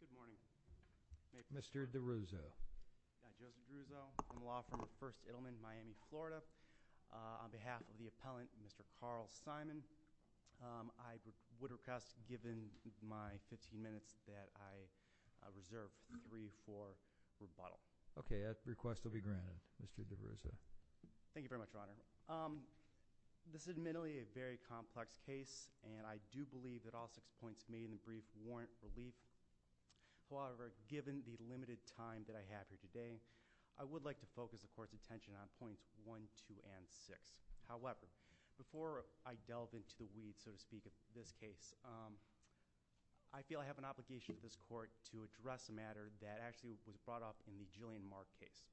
Good morning. Mr. DeRuzo. I'm Joseph DeRuzo. I'm a law firm at First Edelman, Miami, Florida. On behalf of the appellant, Mr. Carl Simon, I would request, given my 15 minutes, that I reserve three for the bottle. Okay, that request will be granted, Mr. DeRuzo. Thank you very much, Your Honor. This is admittedly a very complex case, and I do believe that all six points made in the brief warrant relief. However, given the limited time that I have here today, I would like to focus the Court's attention on points 1, 2, and 6. However, before I delve into the weeds, so to speak, of this case, I feel I have an obligation to this Court to address a matter that actually was brought up in the Jillian Mark case.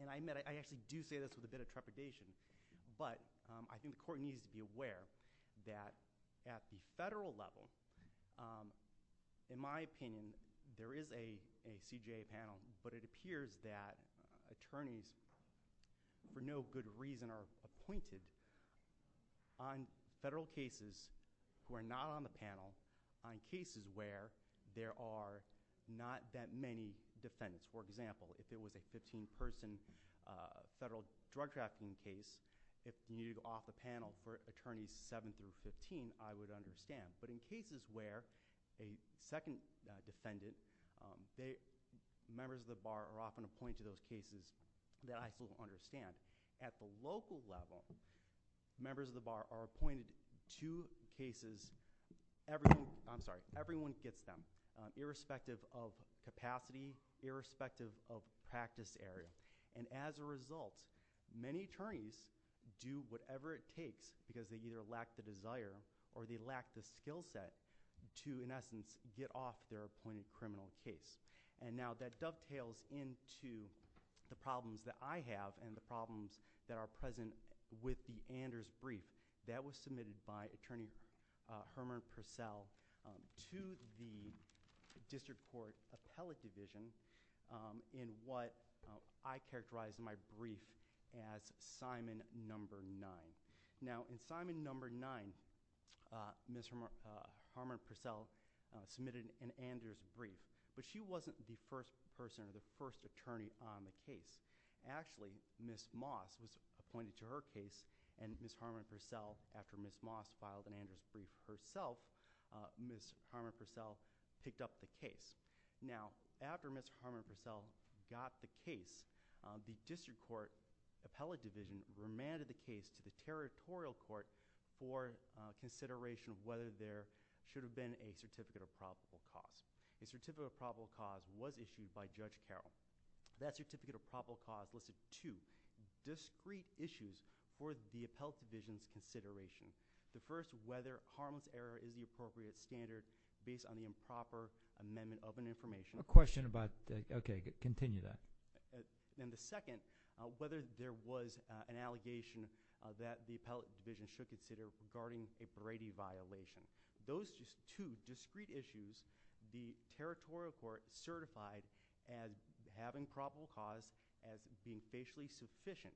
And I admit, I actually do say this with a bit of trepidation, but I think the Court needs to be aware that at the Federal level, in my opinion, there is a CJA panel, but it appears that attorneys, for no good reason, are appointed on Federal cases who are not on the panel on cases where there are not that many defendants. For example, if it was a 15-person Federal drug trafficking case, if you needed to go off the panel for attorneys 7 through 15, I would understand. But in cases where a second defendant, members of the Bar are often appointed to those cases that I still don't understand. At the local level, members of the Bar are everyone gets them, irrespective of capacity, irrespective of practice area. And as a result, many attorneys do whatever it takes because they either lack the desire or they lack the skill set to, in essence, get off their appointed criminal case. And now that dovetails into the problems that I have and the problems that are present with the Anders brief that was submitted by Attorney Herman Purcell to the District Court Appellate Division in what I characterize in my brief as Simon No. 9. Now, in Simon No. 9, Ms. Herman Purcell submitted an Anders brief, but she wasn't the first person or the first attorney on the case. Actually, Ms. Moss was appointed to her case and Ms. Herman Purcell, after Ms. Moss filed an Anders brief herself, Ms. Herman Purcell picked up the case. Now, after Ms. Herman Purcell got the case, the District Court Appellate Division remanded the case to the Territorial Court for consideration of whether there should have been a Certificate of Probable Cause. A Certificate of Probable Cause was issued by Judge Carroll. That Certificate of Probable Cause listed two discrete issues for the Appellate Division's consideration. The first, whether harmless error is the appropriate standard based on the improper amendment of an information. A question about, okay, continue that. And the second, whether there was an allegation that the Appellate Division should consider regarding a Brady violation. Those two discrete issues, the Territorial Court certified as having probable cause as being facially sufficient.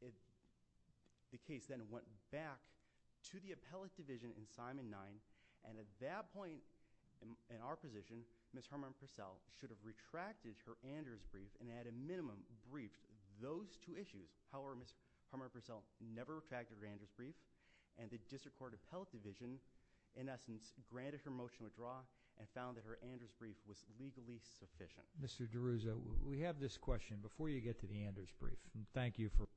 The case then went back to the Appellate Division in Simon No. 9, and at that point in our position, Ms. Herman Purcell should have retracted her Anders brief and at a minimum briefed those two issues. However, Ms. Herman Purcell never retracted her Anders brief, and the District Court Appellate Division, in essence, granted her motion withdraw and found that her Anders brief was legally sufficient. Mr. DeRuza, we have this question before you get to the Anders brief, and thank you for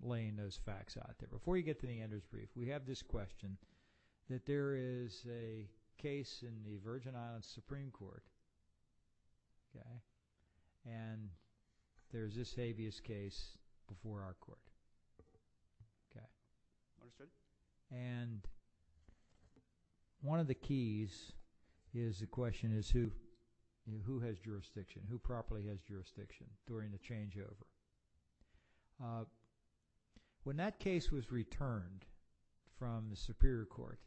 laying those facts out there. Before you get to the Anders brief, we have this question, that there is a case in the Virgin Islands Supreme Court, and there is this habeas case before our court. And one of the keys is the question is who has jurisdiction, who properly has jurisdiction during the changeover. When that case was returned from the Superior Court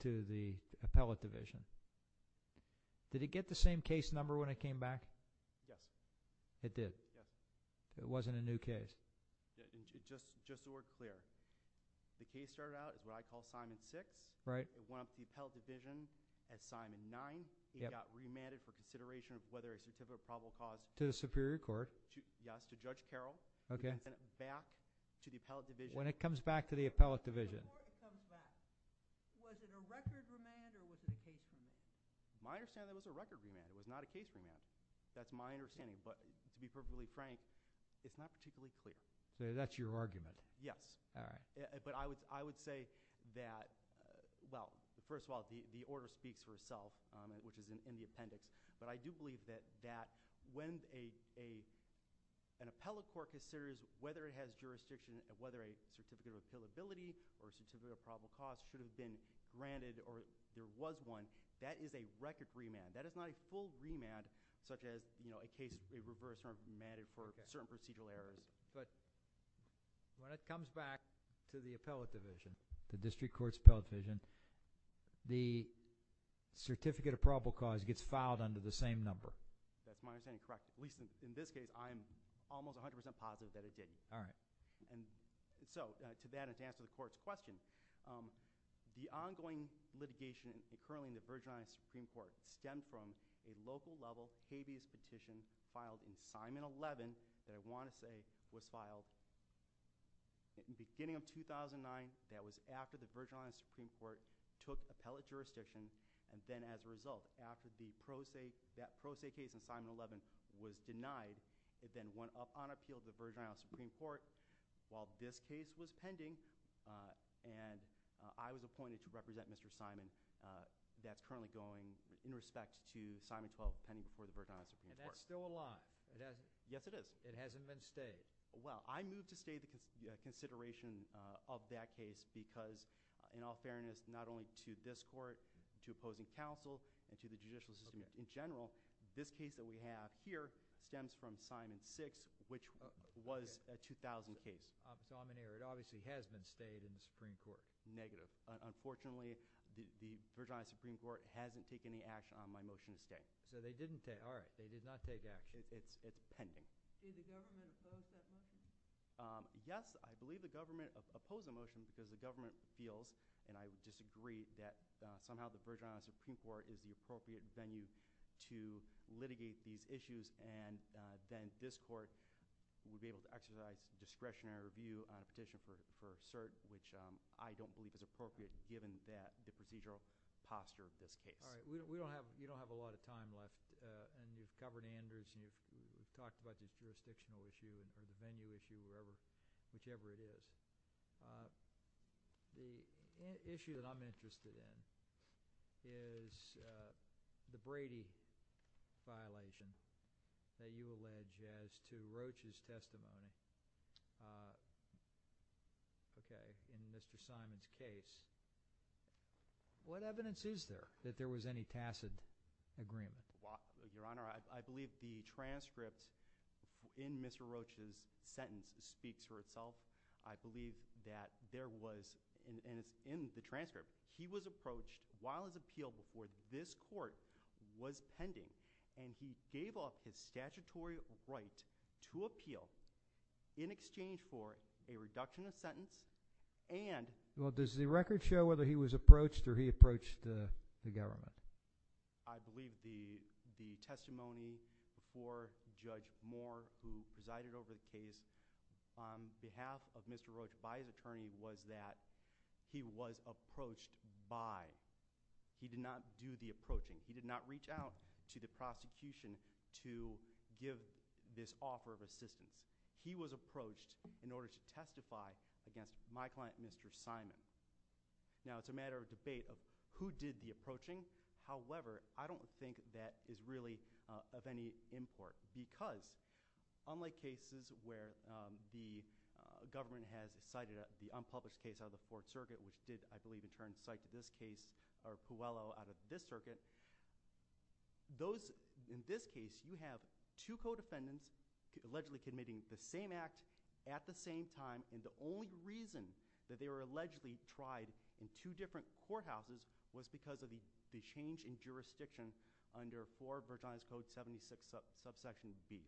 to the Appellate Division, did it get the same case number when it came back? Yes. It did? Yes. It wasn't a new case? Just to be clear, the case started out at what I call Simon 6, it went up to the Appellate Division at Simon 9, it got remanded for consideration of whether it was a probable cause. To the Superior Court? Yes, to Judge Carroll. When it comes back to the I understand it was a record remand, it was not a case remand. That's my understanding, but to be perfectly frank, it's not particularly clear. So that's your argument? Yes. But I would say that, well, first of all, the order speaks for itself, which is in the appendix, but I do believe that when an appellate court considers whether it has jurisdiction, whether a certificate of appealability or a certificate of probable cause should have been granted or there was one, that is a record remand. That is not a full remand such as, you know, a reverse remand for certain procedural errors. But when it comes back to the Appellate Division, the District Court's Appellate Division, the certificate of probable cause gets filed under the same number. That's my understanding, correct. At least in this case, I'm almost 100% positive that it didn't. So to that and to answer the Court's question, the ongoing litigation currently in the Virgin Islands Supreme Court stemmed from a local level habeas petition filed in Simon 11 that I want to say was filed in the beginning of 2009. That was after the Virgin Islands Supreme Court took appellate jurisdiction and then as a result appealed to the Virgin Islands Supreme Court while this case was pending and I was appointed to represent Mr. Simon. That's currently going in respect to Simon 12 pending before the Virgin Islands Supreme Court. And that's still alive. Yes, it is. It hasn't been stayed. Well, I move to stay the consideration of that case because in all fairness, not only to this Court, to opposing counsel and to the judicial system in general, this case that we have here stems from Simon 6 which was a 2000 case. It obviously has been stayed in the Supreme Court. Negative. Unfortunately, the Virgin Islands Supreme Court hasn't taken any action on my motion to stay. So they didn't take action. It's pending. Did the government oppose that motion? Yes, I believe the government opposed the motion because the government feels and I believe the government feels that the Supreme Court should be able to investigate these issues and then this Court would be able to exercise discretionary review petition for cert which I don't believe is appropriate given the procedural posture of this case. All right. We don't have a lot of time left and you've covered Anders and you've talked about the jurisdictional issue and the venue issue, whichever it is. The issue that I'm concerned about is whether or not there was any tacit agreement. Your Honor, I believe the transcript in Mr. Roach's sentence speaks for itself. I believe that there was, and it's in the transcript, he was approached while his appeal before this Court was pending and he gave off his statutory right to appeal in exchange for a reduction of sentence and Well, does the record show whether he was approached or he approached the government? I believe the testimony before Judge Moore who presided over the case on behalf of Mr. He did not do the approaching. He did not reach out to the prosecution to give this offer of assistance. He was approached in order to testify against my client, Mr. Simon. Now, it's a matter of debate of who did the approaching. However, I don't think that is really of any import because unlike cases where the government has cited the unpublished case out of the Fourth Circuit which did, I believe, in turn cite this case or Puello out of this circuit, those, in this case, you have two co-defendants allegedly committing the same act at the same time and the only reason that they were allegedly tried in two different courthouses was because of the change in jurisdiction under 4 Virginia's Code 76 subsection B.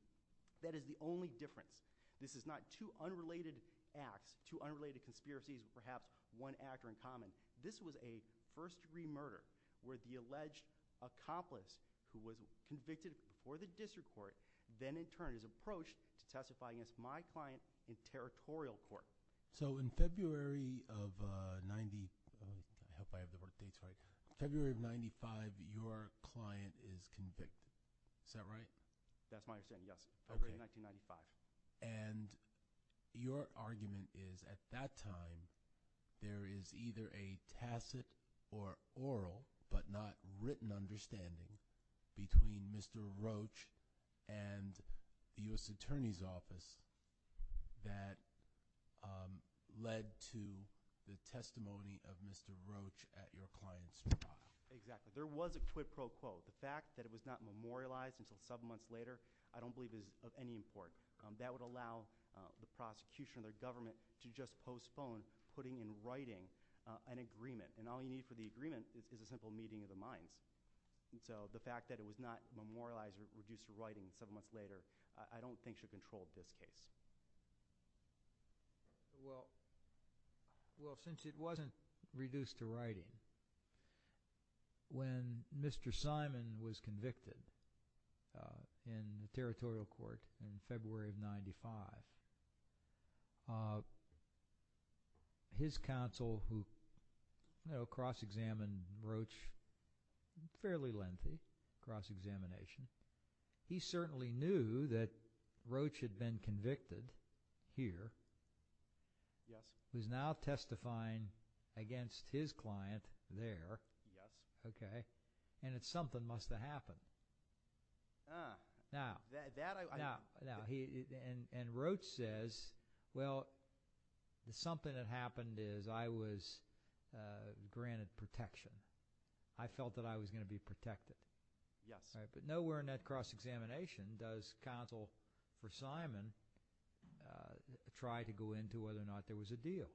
That is the only difference. This is not two unrelated acts, two unrelated conspiracies with perhaps one actor in common. This was a first-degree murder where the alleged accomplice who was convicted before the district court then in turn is approached to testify against my client in territorial court. So, in February of 95, your client is convicted. Is that right? That's my understanding, yes. February of 1995. And your argument is at that time there is either a tacit or oral but not written understanding between Mr. Roach and the U.S. Attorney's Office that led to the testimony of Mr. Roach at your client's trial. Exactly. There was a quid pro quo. The fact that it was not memorialized until several months later I don't believe is of any import. That would allow the prosecution or the government to just postpone putting in writing an agreement and all you need for the agreement is a simple meeting of the minds. So, the fact that it was not memorialized or reduced to writing several months later I don't think should control this case. Well, since it wasn't reduced to writing, when Mr. Simon was convicted in the territorial court in February of 95, his counsel who cross-examined Roach fairly lengthy cross-examination, he certainly knew that Roach had been convicted here, who is now testifying against his client there, and that something must have happened. And Roach says, well, something that happened is I was granted protection. I felt that I was going to be protected. Yes. But nowhere in that cross-examination does counsel for Simon try to go into whether or not there was a deal.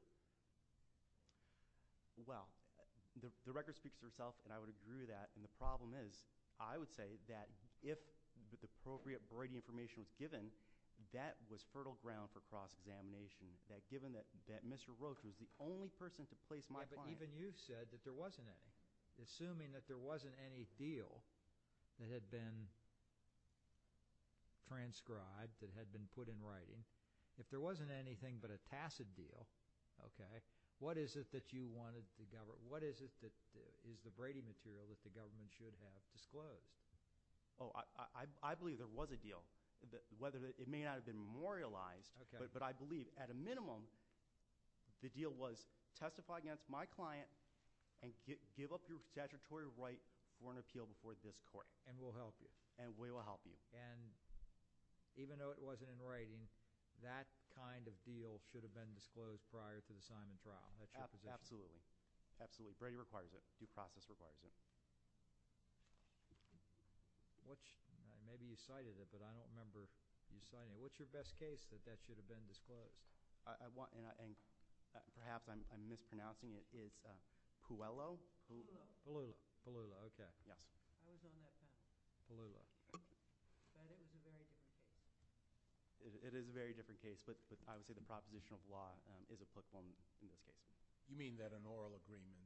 Well, the record speaks for itself and I would agree with that. And the problem is, I would say that if the appropriate broidy information was given, that was fertile ground for cross-examination. Given that Mr. Roach, who is the only person to place my client Even you said that there wasn't any. Assuming that there wasn't any deal that had been transcribed, that had been put in writing, if there wasn't anything but a tacit deal, what is it that you wanted the government, what is it that is the broidy material that the government should have disclosed? Oh, I believe there was a deal. It may not have been memorialized, but I believe at a minimum the deal was testify against my client and give up your statutory right for an appeal before this court. And we'll help you. And we will help you. And even though it wasn't in writing, that kind of deal should have been disclosed prior to the Simon trial. Absolutely. Absolutely. Broidy requires it. Due process requires it. Maybe you cited it, but I don't remember you citing it. What's your best case that that deal should have been disclosed? Perhaps I'm mispronouncing it. It's Puello. Palula. Palula. Okay. Yes. I was on that case. Palula. That is a very different case. It is a very different case, but I would say the proposition of law is a quick one in this case. You mean that an oral agreement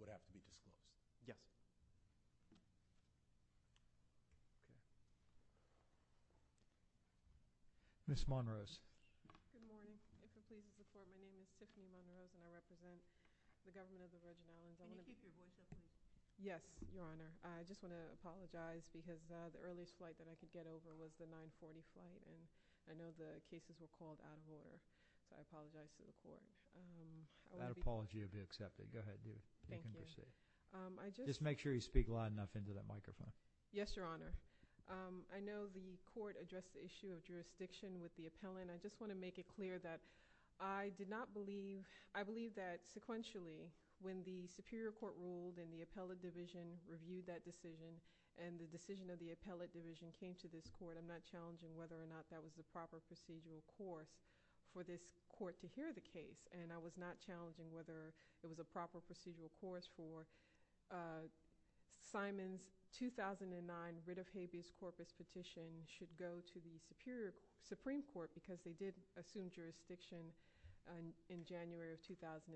would have to be disclosed? Yes. Okay. Ms. Monrose. Good morning. This is Susan from the court. My name is Tiffany Monrose, and I represent the government of the Virgin Islands. Can you keep your voice up, please? Yes, Your Honor. I just want to apologize because the earliest flight that I could get over was the 940 flight, and I know the cases were called out of order, so I apologize to the court. That apology will be accepted. Go ahead. You can proceed. Thank you. Ms. Manning. Yes, Your Honor. I know the court addressed the issue of jurisdiction with the appellant. I just want to make it clear that I did not believe, I believe that sequentially, when the superior court ruled and the appellate division reviewed that decision and the decision of the appellate division came to this court, I'm not challenging whether or not that was the proper procedural course for this court to hear the case, and I was not challenging whether there was a proper procedural course for Simon's 2009 writ of habeas corpus petition should go to the Supreme Court because they did assume jurisdiction in January of 2007.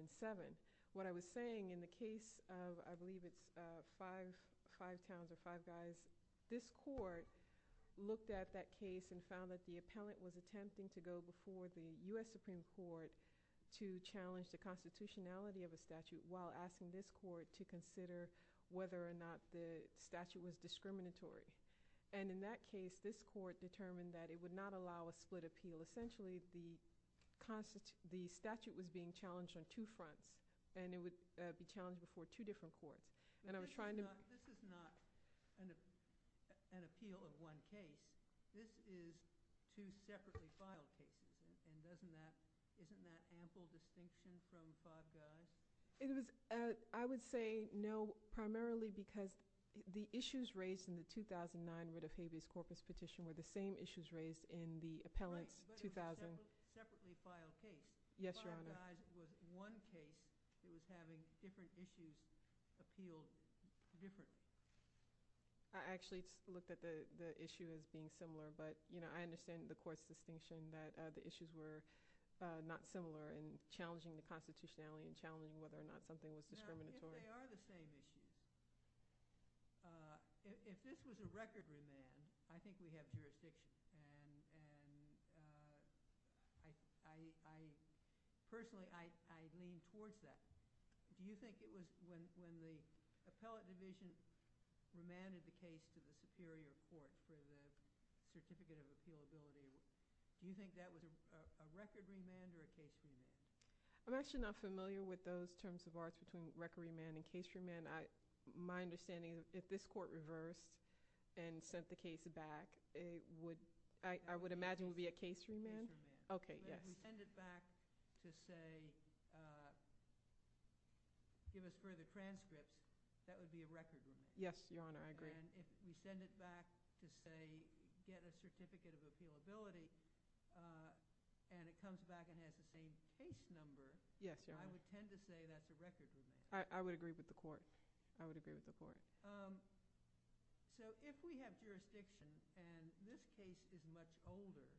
What I was saying in the case of, I believe it's five towns or five guys, this court looked at that case and found that the appellant was attempting to go before the U.S. Supreme Court to challenge the constitutionality of a statute while asking this court to consider whether or not the statute was discriminatory, and in that case, this court determined that it would not allow a split appeal. Essentially, the statute was being challenged on two fronts, and it would be challenged before two different courts. And I was trying to... This is not an appeal of one case. This is two separately filed cases, and it doesn't matter which one. Isn't that ample distinction from five guys? I would say no, primarily because the issues raised in the 2009 writ of habeas corpus petition were the same issues raised in the appellant's 2000... Right, but it was a two separately filed case. Yes, Your Honor. Five guys was one case. It was having different issues appealed differently. I actually looked at the issue as being similar, but I understand the court's distinction that the issues were not similar and challenging the constitutionality and challenging whether or not something was discriminatory. Now, if they are the same issues, if this was a record remand, I think you have jurisdiction. And I, personally, I reinforce that. Do you think it was, when, when the appellate division remanded a case to the superior court, to the certificate of appealability, do you think that was a record remand or a case remand? I'm actually not familiar with those terms of arts between record remand and case remand. My understanding is if this court reversed and sent the case back, it would, I would imagine it would be a case remand. Okay, yes. If you send it back to say, give a further transcript, that would be a record remand. Yes, Your Honor, I agree. And if you send it back to say, get a certificate of appealability, and it comes back and has the same case number, I would tend to say that's a record remand. I would agree with the court. I would agree with the court. So, if we have jurisdiction and this case is much older,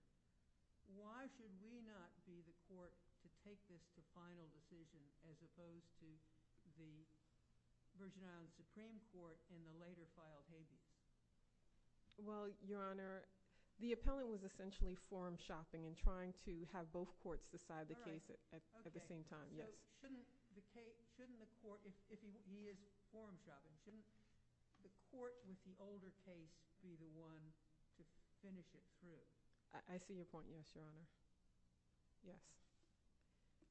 why should we not be the court to take this to final decision as opposed to the Virgin Islands Supreme Court in the later trial case? Well, Your Honor, the appellant was essentially form shopping and trying to have both courts decide the case at the same time. So shouldn't the case, shouldn't the court, if he is form shopping, shouldn't the court with the older case be the one to finish it through? I see your point, yes, Your Honor. Yes,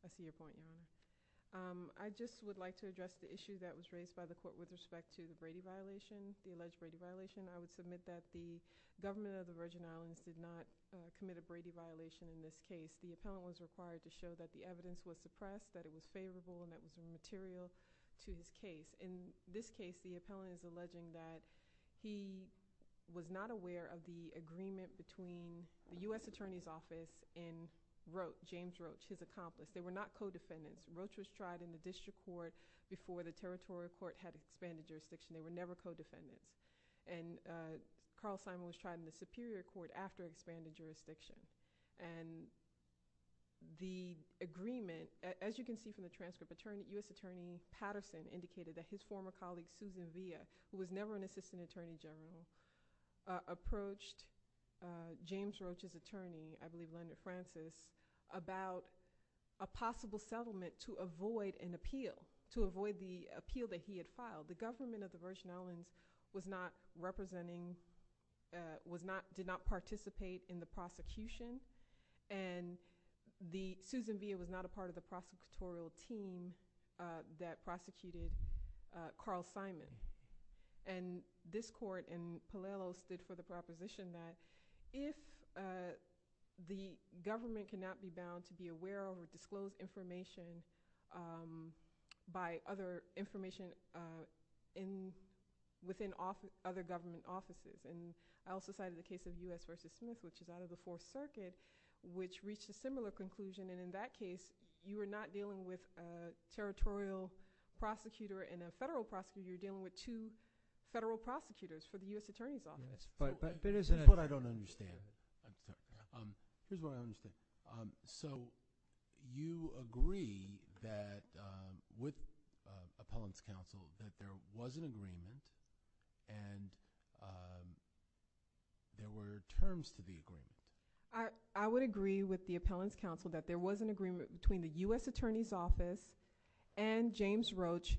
I see your point, Your Honor. I just would like to address the issue that was raised by the court with respect to the Brady violation, the alleged Brady violation. I would submit that the government of the Virgin Islands did not commit a Brady violation in this case. The appellant was required to show that the evidence was suppressed, that it was favorable and that it was immaterial to his case. In this case, the appellant is alleging that he was not aware of the agreement between the U.S. Attorney's Office and Roche, James Roche, his accomplice. They were not co-defendants. Roche was tried in the district court before the territorial court had expanded jurisdiction. They were never co-defendants. And Carl Simon was tried in the superior court after it expanded jurisdiction. And the agreement, as you can see from the transcript, U.S. Attorney Patterson indicated that his former colleague, Susan Villa, who was never an assistant attorney general, approached James Roche's attorney, I believe Leonard Francis, about a possible settlement to avoid an appeal, to avoid the appeal that he had filed. The government of the Virgin Islands was not representing, was not, did not participate in the prosecution. And the, Susan Villa was not a part of the prosecutorial team that prosecuted Carl Simon. And this court in Palelo stood for the proposition that if the government cannot be bound to be aware of or disclose information by other information in, within other government offices, and I also cited the case of U.S. v. Smith, which is out of the Fourth Circuit, which reached a similar conclusion. And in that case, you are not dealing with a territorial prosecutor and a federal prosecutor. You're dealing with two federal prosecutors for the U.S. Attorney's Office. Yes, but, but there's a… Here's what I don't understand. Here's what I don't understand. So you agree that, with Appellant's Counsel, that there was an agreement and there were terms to the agreement? I would agree with the Appellant's Counsel that there was an agreement between the U.S. Attorney's Office and James Roche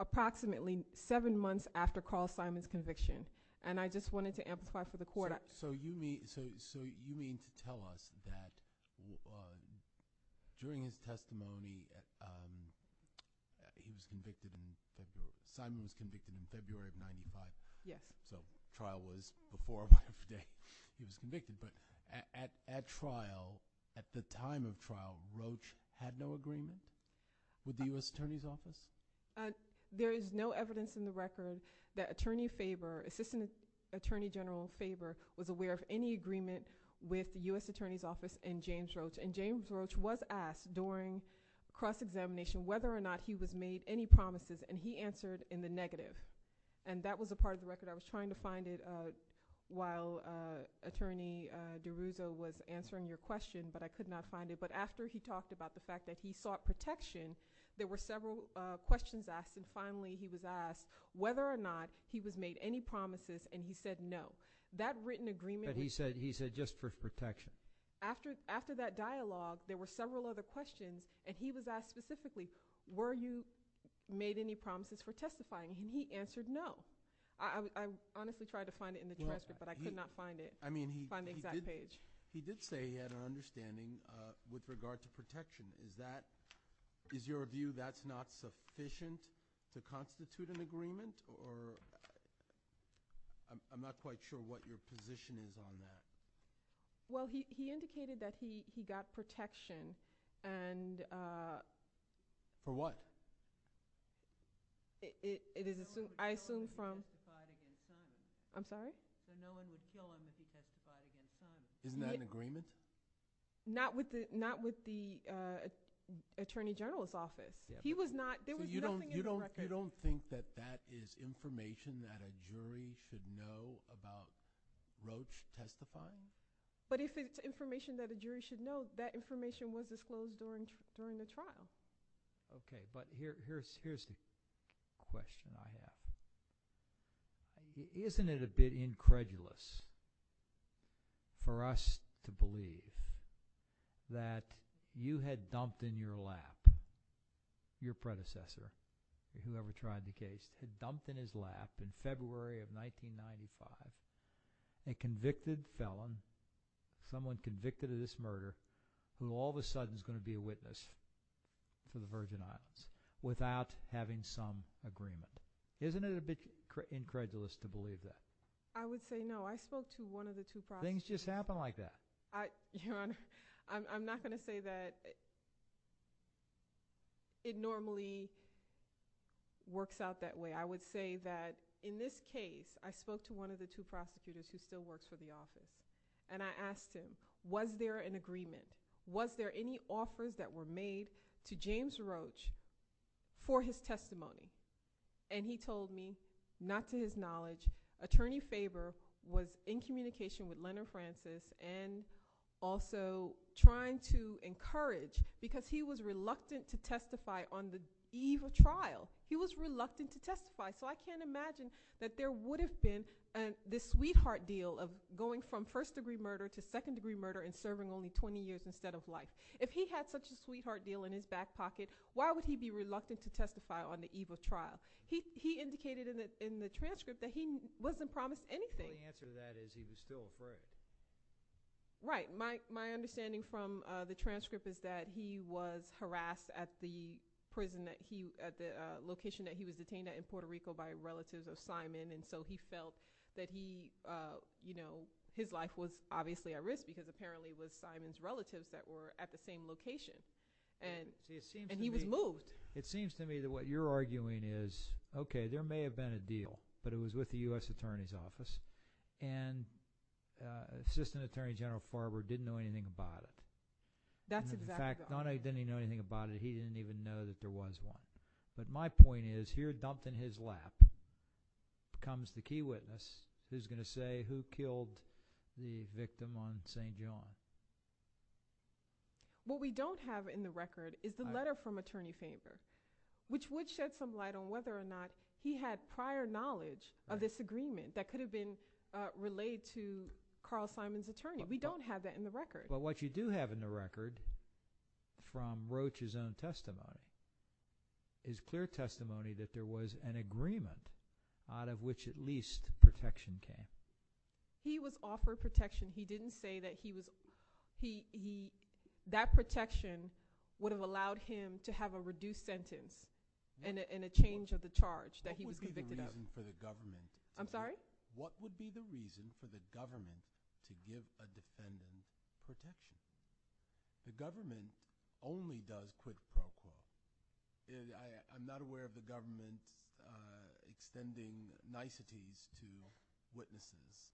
approximately seven months after Carl Simon's conviction. And I just wanted to amplify for the court… So you mean, so you mean to tell us that during his testimony, he was convicted in February, Simon was convicted in February of 95? Yes. So trial was before or after the day he was convicted. But at trial, at the time of trial, Roche had no agreement with the U.S. Attorney's Office? There is no evidence in the record that Attorney Faber, Assistant Attorney General Faber, was aware of any agreement with the U.S. Attorney's Office and James Roche. And James Roche was asked during cross-examination whether or not he was made any promises, and he answered in the negative. And that was a part of the record. I was trying to find it while Attorney DeRuzo was answering your question, but I could not find it. But after he talked about the fact that he sought protection, there were several questions asked, and finally he was asked whether or not he was made any promises, and he said no. That written agreement… But he said just for protection. After that dialogue, there were several other questions, and he was asked specifically, were you made any promises for testifying? And he answered no. I honestly tried to find it in the transcript, but I could not find it, find the exact page. He did say he had an understanding with regard to protection. Is that, is your view that's not sufficient to constitute an agreement? Or… I'm not quite sure what your position is on that. Well, he indicated that he got protection, and… For what? It is assumed, I assume from… I'm sorry? That no one would kill him if he testified against him. Isn't that an agreement? Not with the Attorney General's office. He was not, there was nothing in the record. So you don't think that that is information that a jury should know about Roach testifying? But if it's information that a jury should know, that information was disclosed during the trial. Okay, but here's the question I have. Isn't it a bit incredulous for us to believe that you had dumped in your lap, your predecessor, whoever tried the case, had dumped in his lap in February of 1995 a convicted felon, someone convicted of this murder, who all of a sudden is going to be a witness for the Virgin Islands, without having some agreement. Isn't it a bit incredulous to believe that? I would say no. I spoke to one of the two prosecutors. Things just happen like that. Your Honor, I'm not going to say that it normally works out that way. I would say that in this case, I spoke to one of the two prosecutors who still works for the office, and I asked him, was there an agreement? Was there any offers that were made to James Roach for his testimony? He told me, not to his knowledge, Attorney Faber was in communication with Leonard Francis and also trying to encourage, because he was reluctant to testify on the eve of trial. He was reluctant to testify, so I can't imagine that there would have been this sweetheart deal of going from first-degree murder to second-degree murder and serving only 20 years instead of life. If he had such a sweetheart deal in his back pocket, why would he be reluctant to testify on the eve of trial? He indicated in the transcript that he wasn't promised anything. Well, the answer to that is he was still afraid. Right. My understanding from the transcript is that he was harassed at the location that he was detained at in Puerto Rico by relatives of Simon, and so he felt that his life was obviously at risk because apparently it was Simon's relatives that were at the same location, and he was moved. It seems to me that what you're arguing is, okay, there may have been a deal, but it was with the U.S. Attorney's Office, and Assistant Attorney General Farber didn't know anything about it. That's exactly right. In fact, not only didn't he know anything about it, he didn't even know that there was one. But my point is, here dumped in his lap comes the key witness who's going to say who killed the victim on St. John. What we don't have in the record is the letter from Attorney Farber, which would shed some light on whether or not he had prior knowledge of this agreement that could have been relayed to Carl Simon's attorney. We don't have that in the record. But what you do have in the record from Roach's own testimony is clear testimony that there was an agreement out of which at least protection came. He was offered protection. He didn't say that that protection would have allowed him to have a reduced sentence and a change of the charge that he was convicted of. What would be the reason for the government to give a defendant protection? The government only does quid pro quo. I'm not aware of the government extending niceties to witnesses.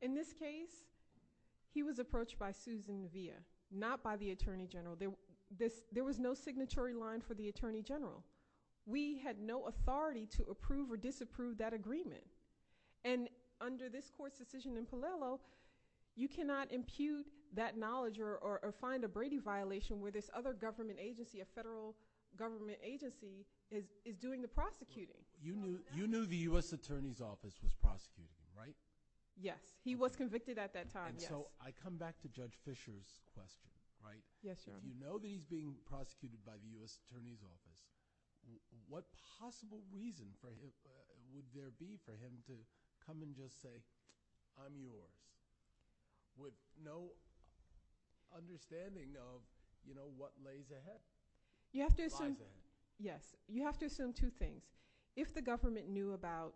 In this case, he was approached by Susan Nevia, not by the Attorney General. There was no signatory line for the Attorney General. We had no authority to approve or disapprove that agreement. And under this court's decision in Paliello, you cannot impute that knowledge or find a Brady violation where this other government agency, a federal government agency, is doing the prosecuting. You knew the U.S. Attorney's Office was prosecuting him, right? Yes. He was convicted at that time, yes. And so I come back to Judge Fischer's question, right? Yes, Your Honor. You know that he's being prosecuted by the U.S. Attorney's Office. What possible reason would there be for him to come and just say, I'm yours, with no understanding of what lays ahead? Yes. You have to assume two things. If the government knew about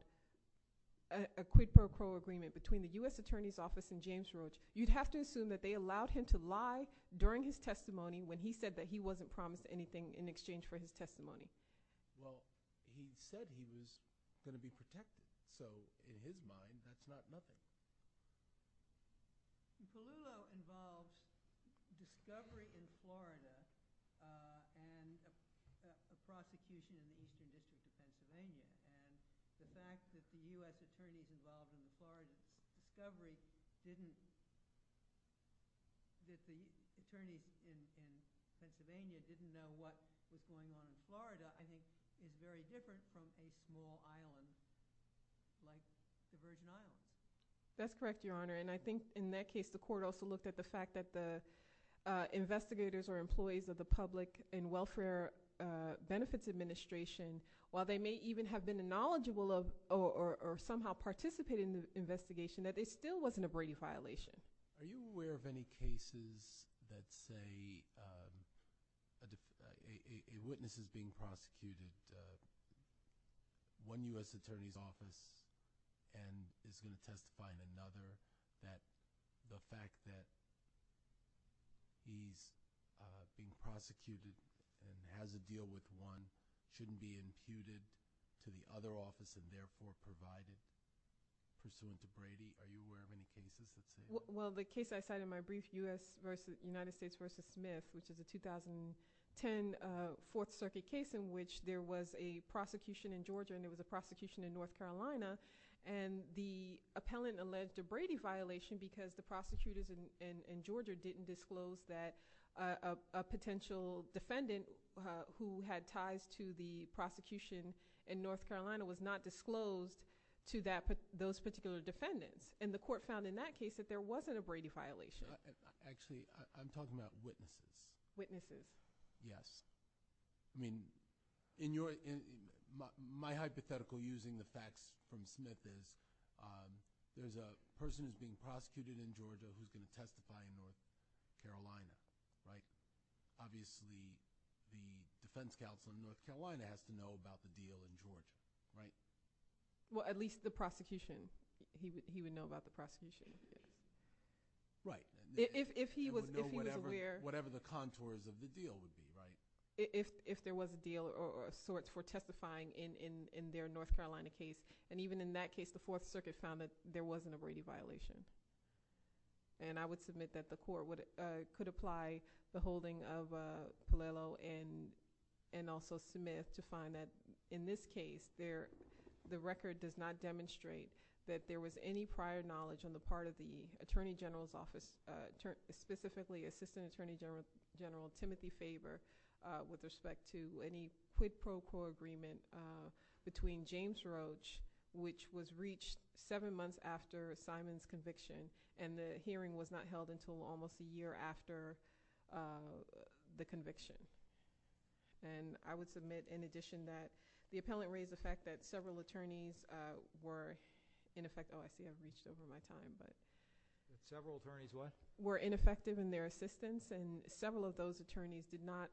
a quid pro quo agreement between the U.S. Attorney's Office and James Roach, you'd have to assume that they allowed him to lie during his testimony when he said that he wasn't promised anything in exchange for his testimony. Well, he said he was going to be protected. So in his mind, that's not nothing. Palullo involved discovery in Florida and a prosecution in Eastern District of Pennsylvania. And the fact that the U.S. attorneys involved in the Florida discovery didn't – that the attorneys in Pennsylvania didn't know what was going on in Florida, I think, is very like the Virgin Islands. That's correct, Your Honor. And I think in that case, the court also looked at the fact that the investigators or employees of the Public and Welfare Benefits Administration, while they may even have been knowledgeable of or somehow participated in the investigation, that it still wasn't a Brady violation. Are you aware of any cases that say a witness is being prosecuted, one U.S. attorney's office and is going to testify in another, that the fact that he's being prosecuted and has a deal with one shouldn't be imputed to the other office and therefore provided pursuant to Brady? Are you aware of any cases that say that? Well, the case I cited in my brief, United States v. Smith, which is a 2010 Fourth Circuit case in which there was a prosecution in Georgia and there was a prosecution in North Carolina, and the appellant alleged a Brady violation because the prosecutors in Georgia didn't disclose that a potential defendant who had ties to the prosecution in North Carolina was not disclosed to those particular defendants. And the court found in that case that there wasn't a Brady violation. Actually, I'm talking about witnesses. Witnesses. Yes. I mean, my hypothetical using the facts from Smith is there's a person who's being prosecuted in Georgia who can testify in North Carolina. Obviously, the defense counsel in North Carolina has to know about the deal in Georgia, right? Well, at least the prosecution. He would know about the prosecution if he did. Right. If he was aware. He would know whatever the contours of the deal would be, right? If there was a deal or sorts for testifying in their North Carolina case. And even in that case, the Fourth Circuit found that there wasn't a Brady violation. And I would submit that the court could apply the holding of Paliello and also Smith to find that in this case, the record does not demonstrate that there was any prior knowledge on the part of the Attorney General's Office, specifically Assistant Attorney General Timothy Faber, with respect to any quid pro quo agreement between James Roach, which was reached seven months after Simon's conviction. And the hearing was not held until almost a year after the conviction. And I would submit, in addition, that the appellant raised the fact that several attorneys were ineffective. Oh, I see I've reached over my time. Several attorneys what? Were ineffective in their assistance, and several of those attorneys did not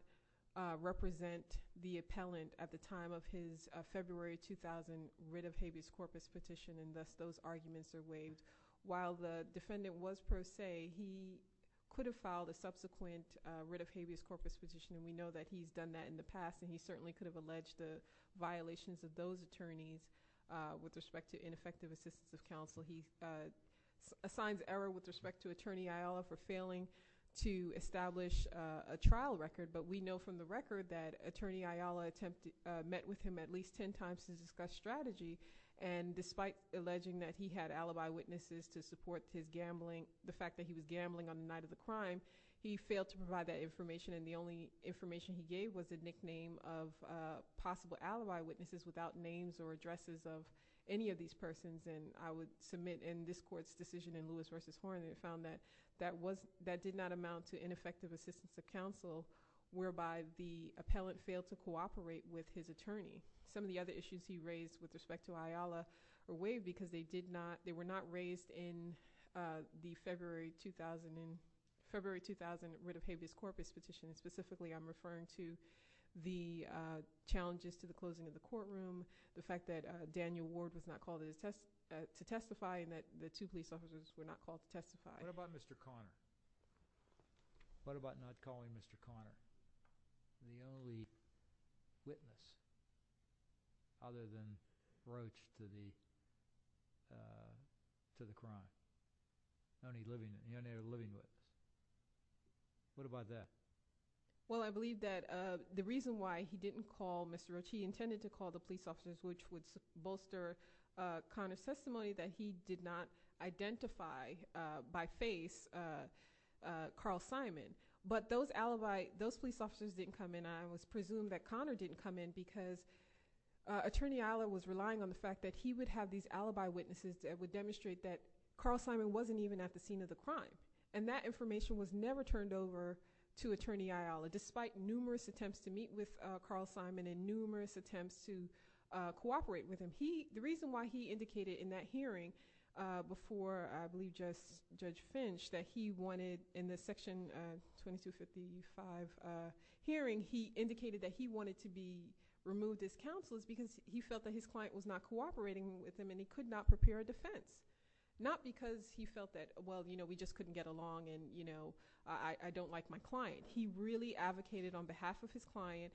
represent the appellant at the time of his February 2000 writ of habeas corpus petition, and thus those arguments are waived. While the defendant was pro se, he could have filed a subsequent writ of habeas corpus petition, and we know that he's done that in the past, and he certainly could have alleged the violations of those attorneys with respect to ineffective assistance of counsel. He assigns error with respect to Attorney Ayala for failing to establish a trial record, but we know from the record that Attorney Ayala met with him at least ten times to discuss strategy, and despite alleging that he had alibi witnesses to support his gambling, the fact that he was gambling on the night of the crime, he failed to provide that information, and the only information he gave was the nickname of possible alibi witnesses without names or addresses of any of these persons. And I would submit in this court's decision in Lewis v. Horne that it found that that did not amount to ineffective assistance of counsel, whereby the appellant failed to cooperate with his attorney. Some of the other issues he raised with respect to Ayala were waived because they were not raised in the February 2000 writ of habeas corpus petition. Specifically, I'm referring to the challenges to the closing of the courtroom, the fact that Daniel Ward was not called to testify, and that the two police officers were not called to testify. What about Mr. Conner? What about not calling Mr. Conner the only witness other than Roach to the crime? The only living witness. What about that? Well, I believe that the reason why he didn't call Mr. Roach, he intended to call the police officers, which would bolster Conner's testimony that he did not identify by face Carl Simon. But those police officers didn't come in. I would presume that Conner didn't come in because Attorney Ayala was relying on the fact that he would have these alibi witnesses that would demonstrate that Carl Simon wasn't even at the scene of the crime, and that information was never turned over to Attorney Ayala, despite numerous attempts to meet with Carl Simon and numerous attempts to cooperate with him. The reason why he indicated in that hearing before, I believe, Judge Finch, that he wanted, in the section 2255 hearing, he indicated that he wanted to be removed as counsel because he felt that his client was not cooperating with him and he could not prepare a defense. Not because he felt that, well, you know, we just couldn't get along and, you know, I don't like my client. He really advocated on behalf of his client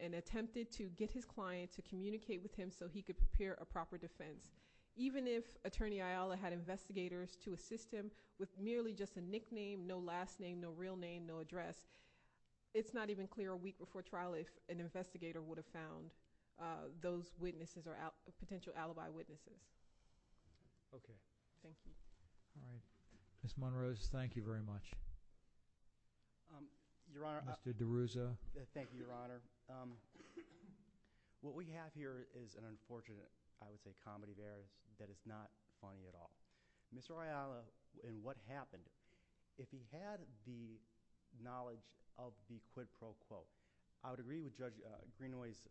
and attempted to get his client to communicate with him so he could prepare a proper defense. Even if Attorney Ayala had investigators to assist him with merely just a nickname, no last name, no real name, no address, it's not even clear a week before trial if an investigator would have found those witnesses or potential alibi witnesses. Okay. Thank you. All right. Ms. Munrose, thank you very much. Your Honor, I... Mr. DeRuzo. Thank you, Your Honor. What we have here is an unfortunate, I would say, comedy there that is not funny at all. Mr. Ayala and what happened, if he had the knowledge of the quid pro quo, I would agree with Judge Greenaway's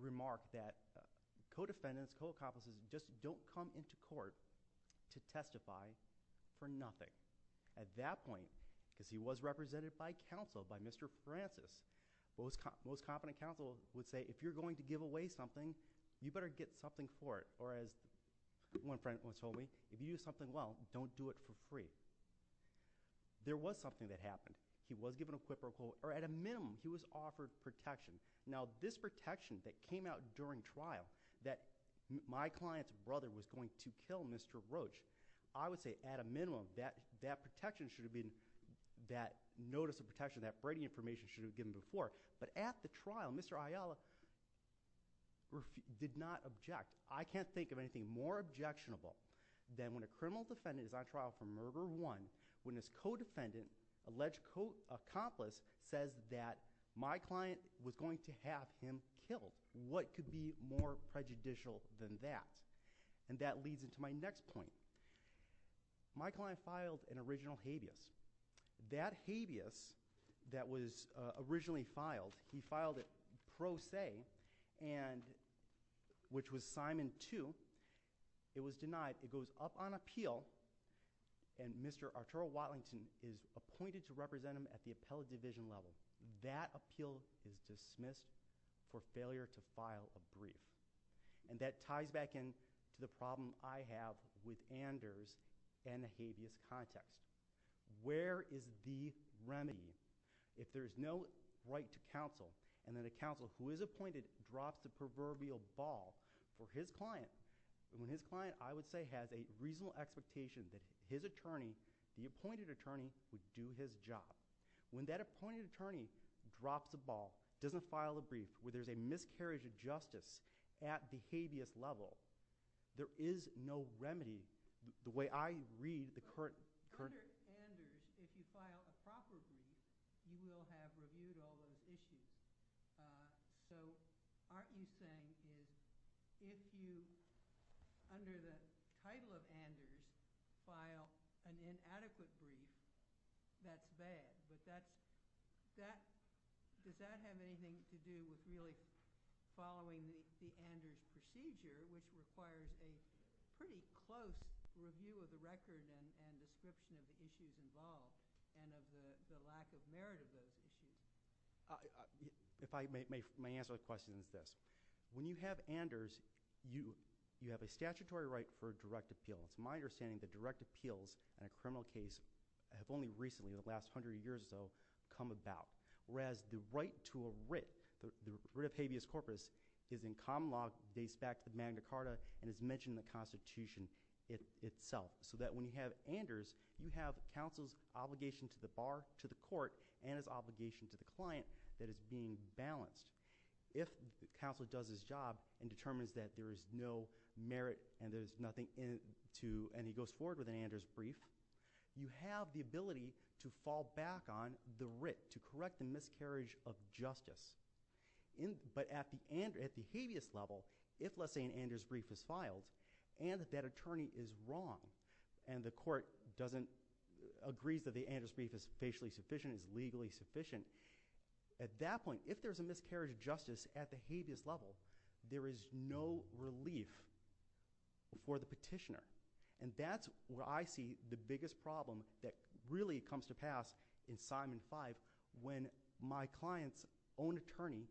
remark that co-defendants, co-accomplices just don't come into court to testify for nothing. At that point, because he was represented by counsel, by Mr. Francis, most competent counsel would say, if you're going to give away something, you better get something for it. Or as one friend once told me, if you do something well, don't do it for free. There was something that happened. He was given a quid pro quo, or at a minimum, he was offered protection. Now, this protection that came out during trial, that my client's brother was going to kill Mr. Roach, I would say, at a minimum, that protection should have been, that notice of protection, that braiding information should have been given before. But at the trial, Mr. Ayala did not object. I can't think of anything more objectionable than when a criminal defendant is on trial for murder of one, when his co-defendant, alleged co-accomplice, says that my client was going to have him killed. What could be more prejudicial than that? And that leads into my next point. My client filed an original habeas. That habeas that was originally filed, he filed it pro se, which was Simon 2. It was denied. It goes up on appeal, and Mr. Arturo Watlington is appointed to represent him at the appellate division level. That appeal is dismissed for failure to file a brief. And that ties back in to the problem I have with Anders and the habeas context. Where is the remedy? If there is no right to counsel, and then a counsel who is appointed drops the proverbial ball for his client, when his client, I would say, has a reasonable expectation that his attorney, the appointed attorney, would do his job. When that appointed attorney drops the ball, doesn't file a brief, where there's a miscarriage of justice at the habeas level, there is no remedy. The way I read the current – Under Anders, if you file a proper brief, you will have reviewed all those issues. So, Art, what you're saying is if you, under the title of Anders, file an inadequate brief, that's bad. Does that have anything to do with really following the Anders procedure, which requires a pretty close review of the record and description of the issues involved, and of the lack of merit of those issues? If I may answer the question with this. When you have Anders, you have a statutory right for direct appeals. It's my understanding that direct appeals in a criminal case have only recently, in the last hundred years or so, come about. Whereas, the right to a writ, the writ of habeas corpus, is in common law, dates back to Magna Carta, and is mentioned in the Constitution itself. So that when you have Anders, you have counsel's obligation to the bar, to the court, and his obligation to the client that is being balanced. If counsel does his job and determines that there is no merit and there's nothing in it, and he goes forward with an Anders brief, you have the ability to fall back on the writ, to correct the miscarriage of justice. But at the habeas level, if, let's say, an Anders brief is filed, and that attorney is wrong, and the court agrees that the Anders brief is facially sufficient, is legally sufficient, at that point, if there's a miscarriage of justice at the habeas level, there is no relief for the petitioner. And that's where I see the biggest problem that really comes to pass in Simon 5, when my client's own attorney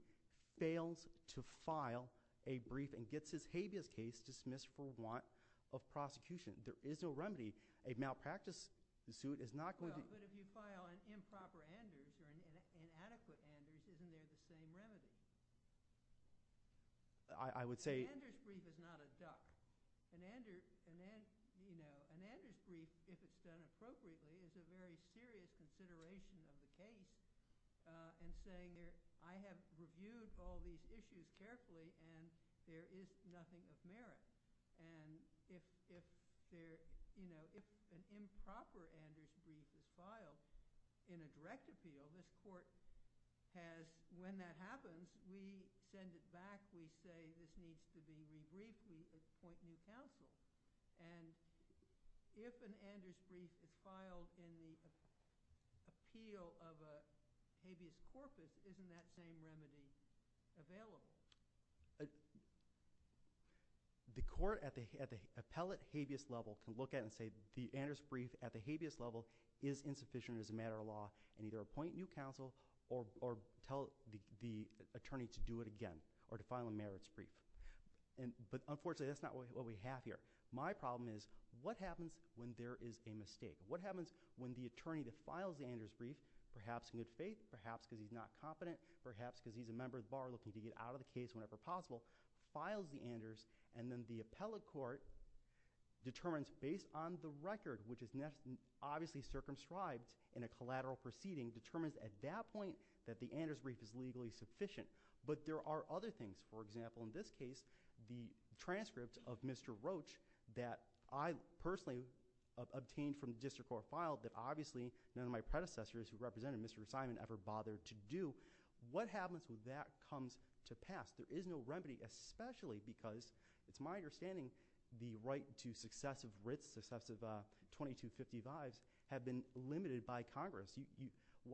fails to file a brief and gets his habeas case dismissed for want of prosecution. There is no remedy. A malpractice suit is not going to be – if there are improper Anders or inadequate Anders, isn't there the same remedy? I would say – An Anders brief is not a duck. An Anders brief, if it's done appropriately, is a very serious consideration in the case, in saying I have reviewed all these issues carefully, and there is nothing of merit. And if there – you know, if an improper Anders brief is filed in a direct appeal, the court has – when that happens, we send it back. We say this needs to be re-briefed. We appoint new counsel. And if an Anders brief is filed in the appeal of a habeas corpus, isn't that same remedy available? The court at the appellate habeas level can look at it and say the Anders brief at the habeas level is insufficient as a matter of law and either appoint new counsel or tell the attorney to do it again or to file a merits brief. But unfortunately, that's not what we have here. My problem is what happens when there is a mistake? What happens when the attorney that files the Anders brief, perhaps in good faith, perhaps because he's not competent, perhaps because he's a member of the bar looking to get out of the case whenever possible, files the Anders, and then the appellate court determines based on the record, which is obviously circumscribed in a collateral proceeding, determines at that point that the Anders brief is legally sufficient. But there are other things. For example, in this case, the transcript of Mr. Roach that I personally obtained from the district court file that obviously none of my predecessors who represented Mr. Simon ever bothered to do. What happens when that comes to pass? There is no remedy, especially because it's my understanding the right to successive writs, successive 2255s have been limited by Congress. I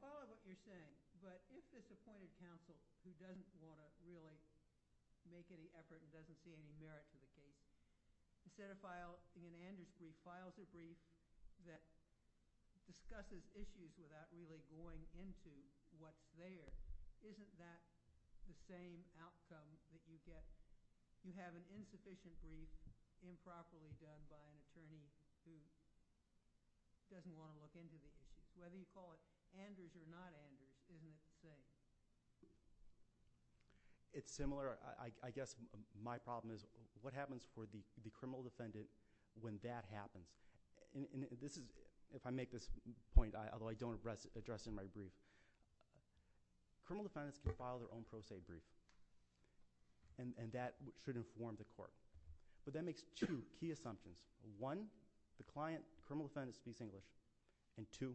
follow what you're saying. But if this appointed counsel who doesn't want to really make any effort and doesn't see any merit to the case, instead of filing an Anders brief, files a brief that discusses issues without really going into what's there, isn't that the same outcome that you get? You have an insufficient brief improperly done by an attorney who doesn't want to look into the case. Whether you call it Anders or not Anders isn't the same. It's similar. I guess my problem is what happens for the criminal defendant when that happens? If I make this point, although I don't address it in my brief, criminal defendants can file their own pro se brief. And that should inform the court. But that makes two key assumptions. One, the client, criminal defendant, speaks English. And two,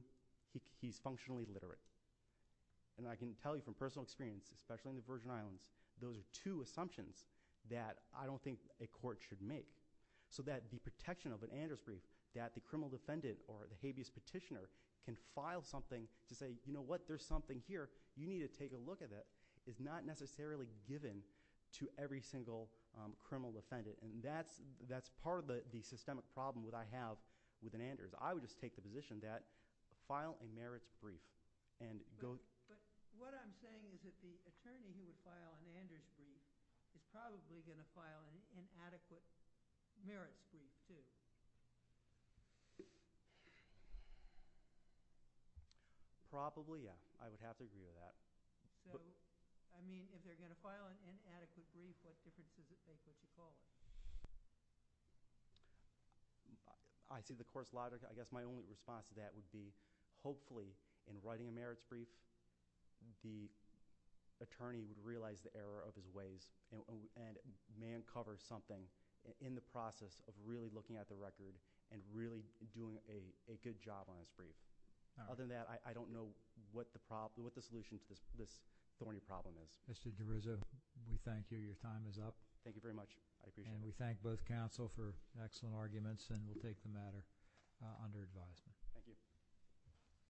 he's functionally literate. And I can tell you from personal experience, especially in the Virgin Islands, those are two assumptions that I don't think a court should make. So that the protection of an Anders brief that the criminal defendant or the habeas petitioner can file something to say, you know what, there's something here, you need to take a look at it, is not necessarily given to every single criminal defendant. And that's part of the systemic problem that I have with an Anders. I would just take the position that file a merits brief and go. But what I'm saying is that the attorney who would file an Anders brief is probably going to file an inadequate merits brief too. Probably, yeah. I would have to agree to that. So, I mean, if they're going to file an inadequate brief, what difference does it make what you call it? I see the court's logic. I guess my only response to that would be, hopefully, in writing a merits brief, the attorney would realize the error of his ways and may uncover something in the process of really looking at the record and really doing a good job on his brief. Other than that, I don't know what the solution to this thorny problem is. Mr. Derriza, we thank you. Your time is up. Thank you very much. I appreciate it. And we thank both counsel for excellent arguments, and we'll take the matter under advisement. Thank you.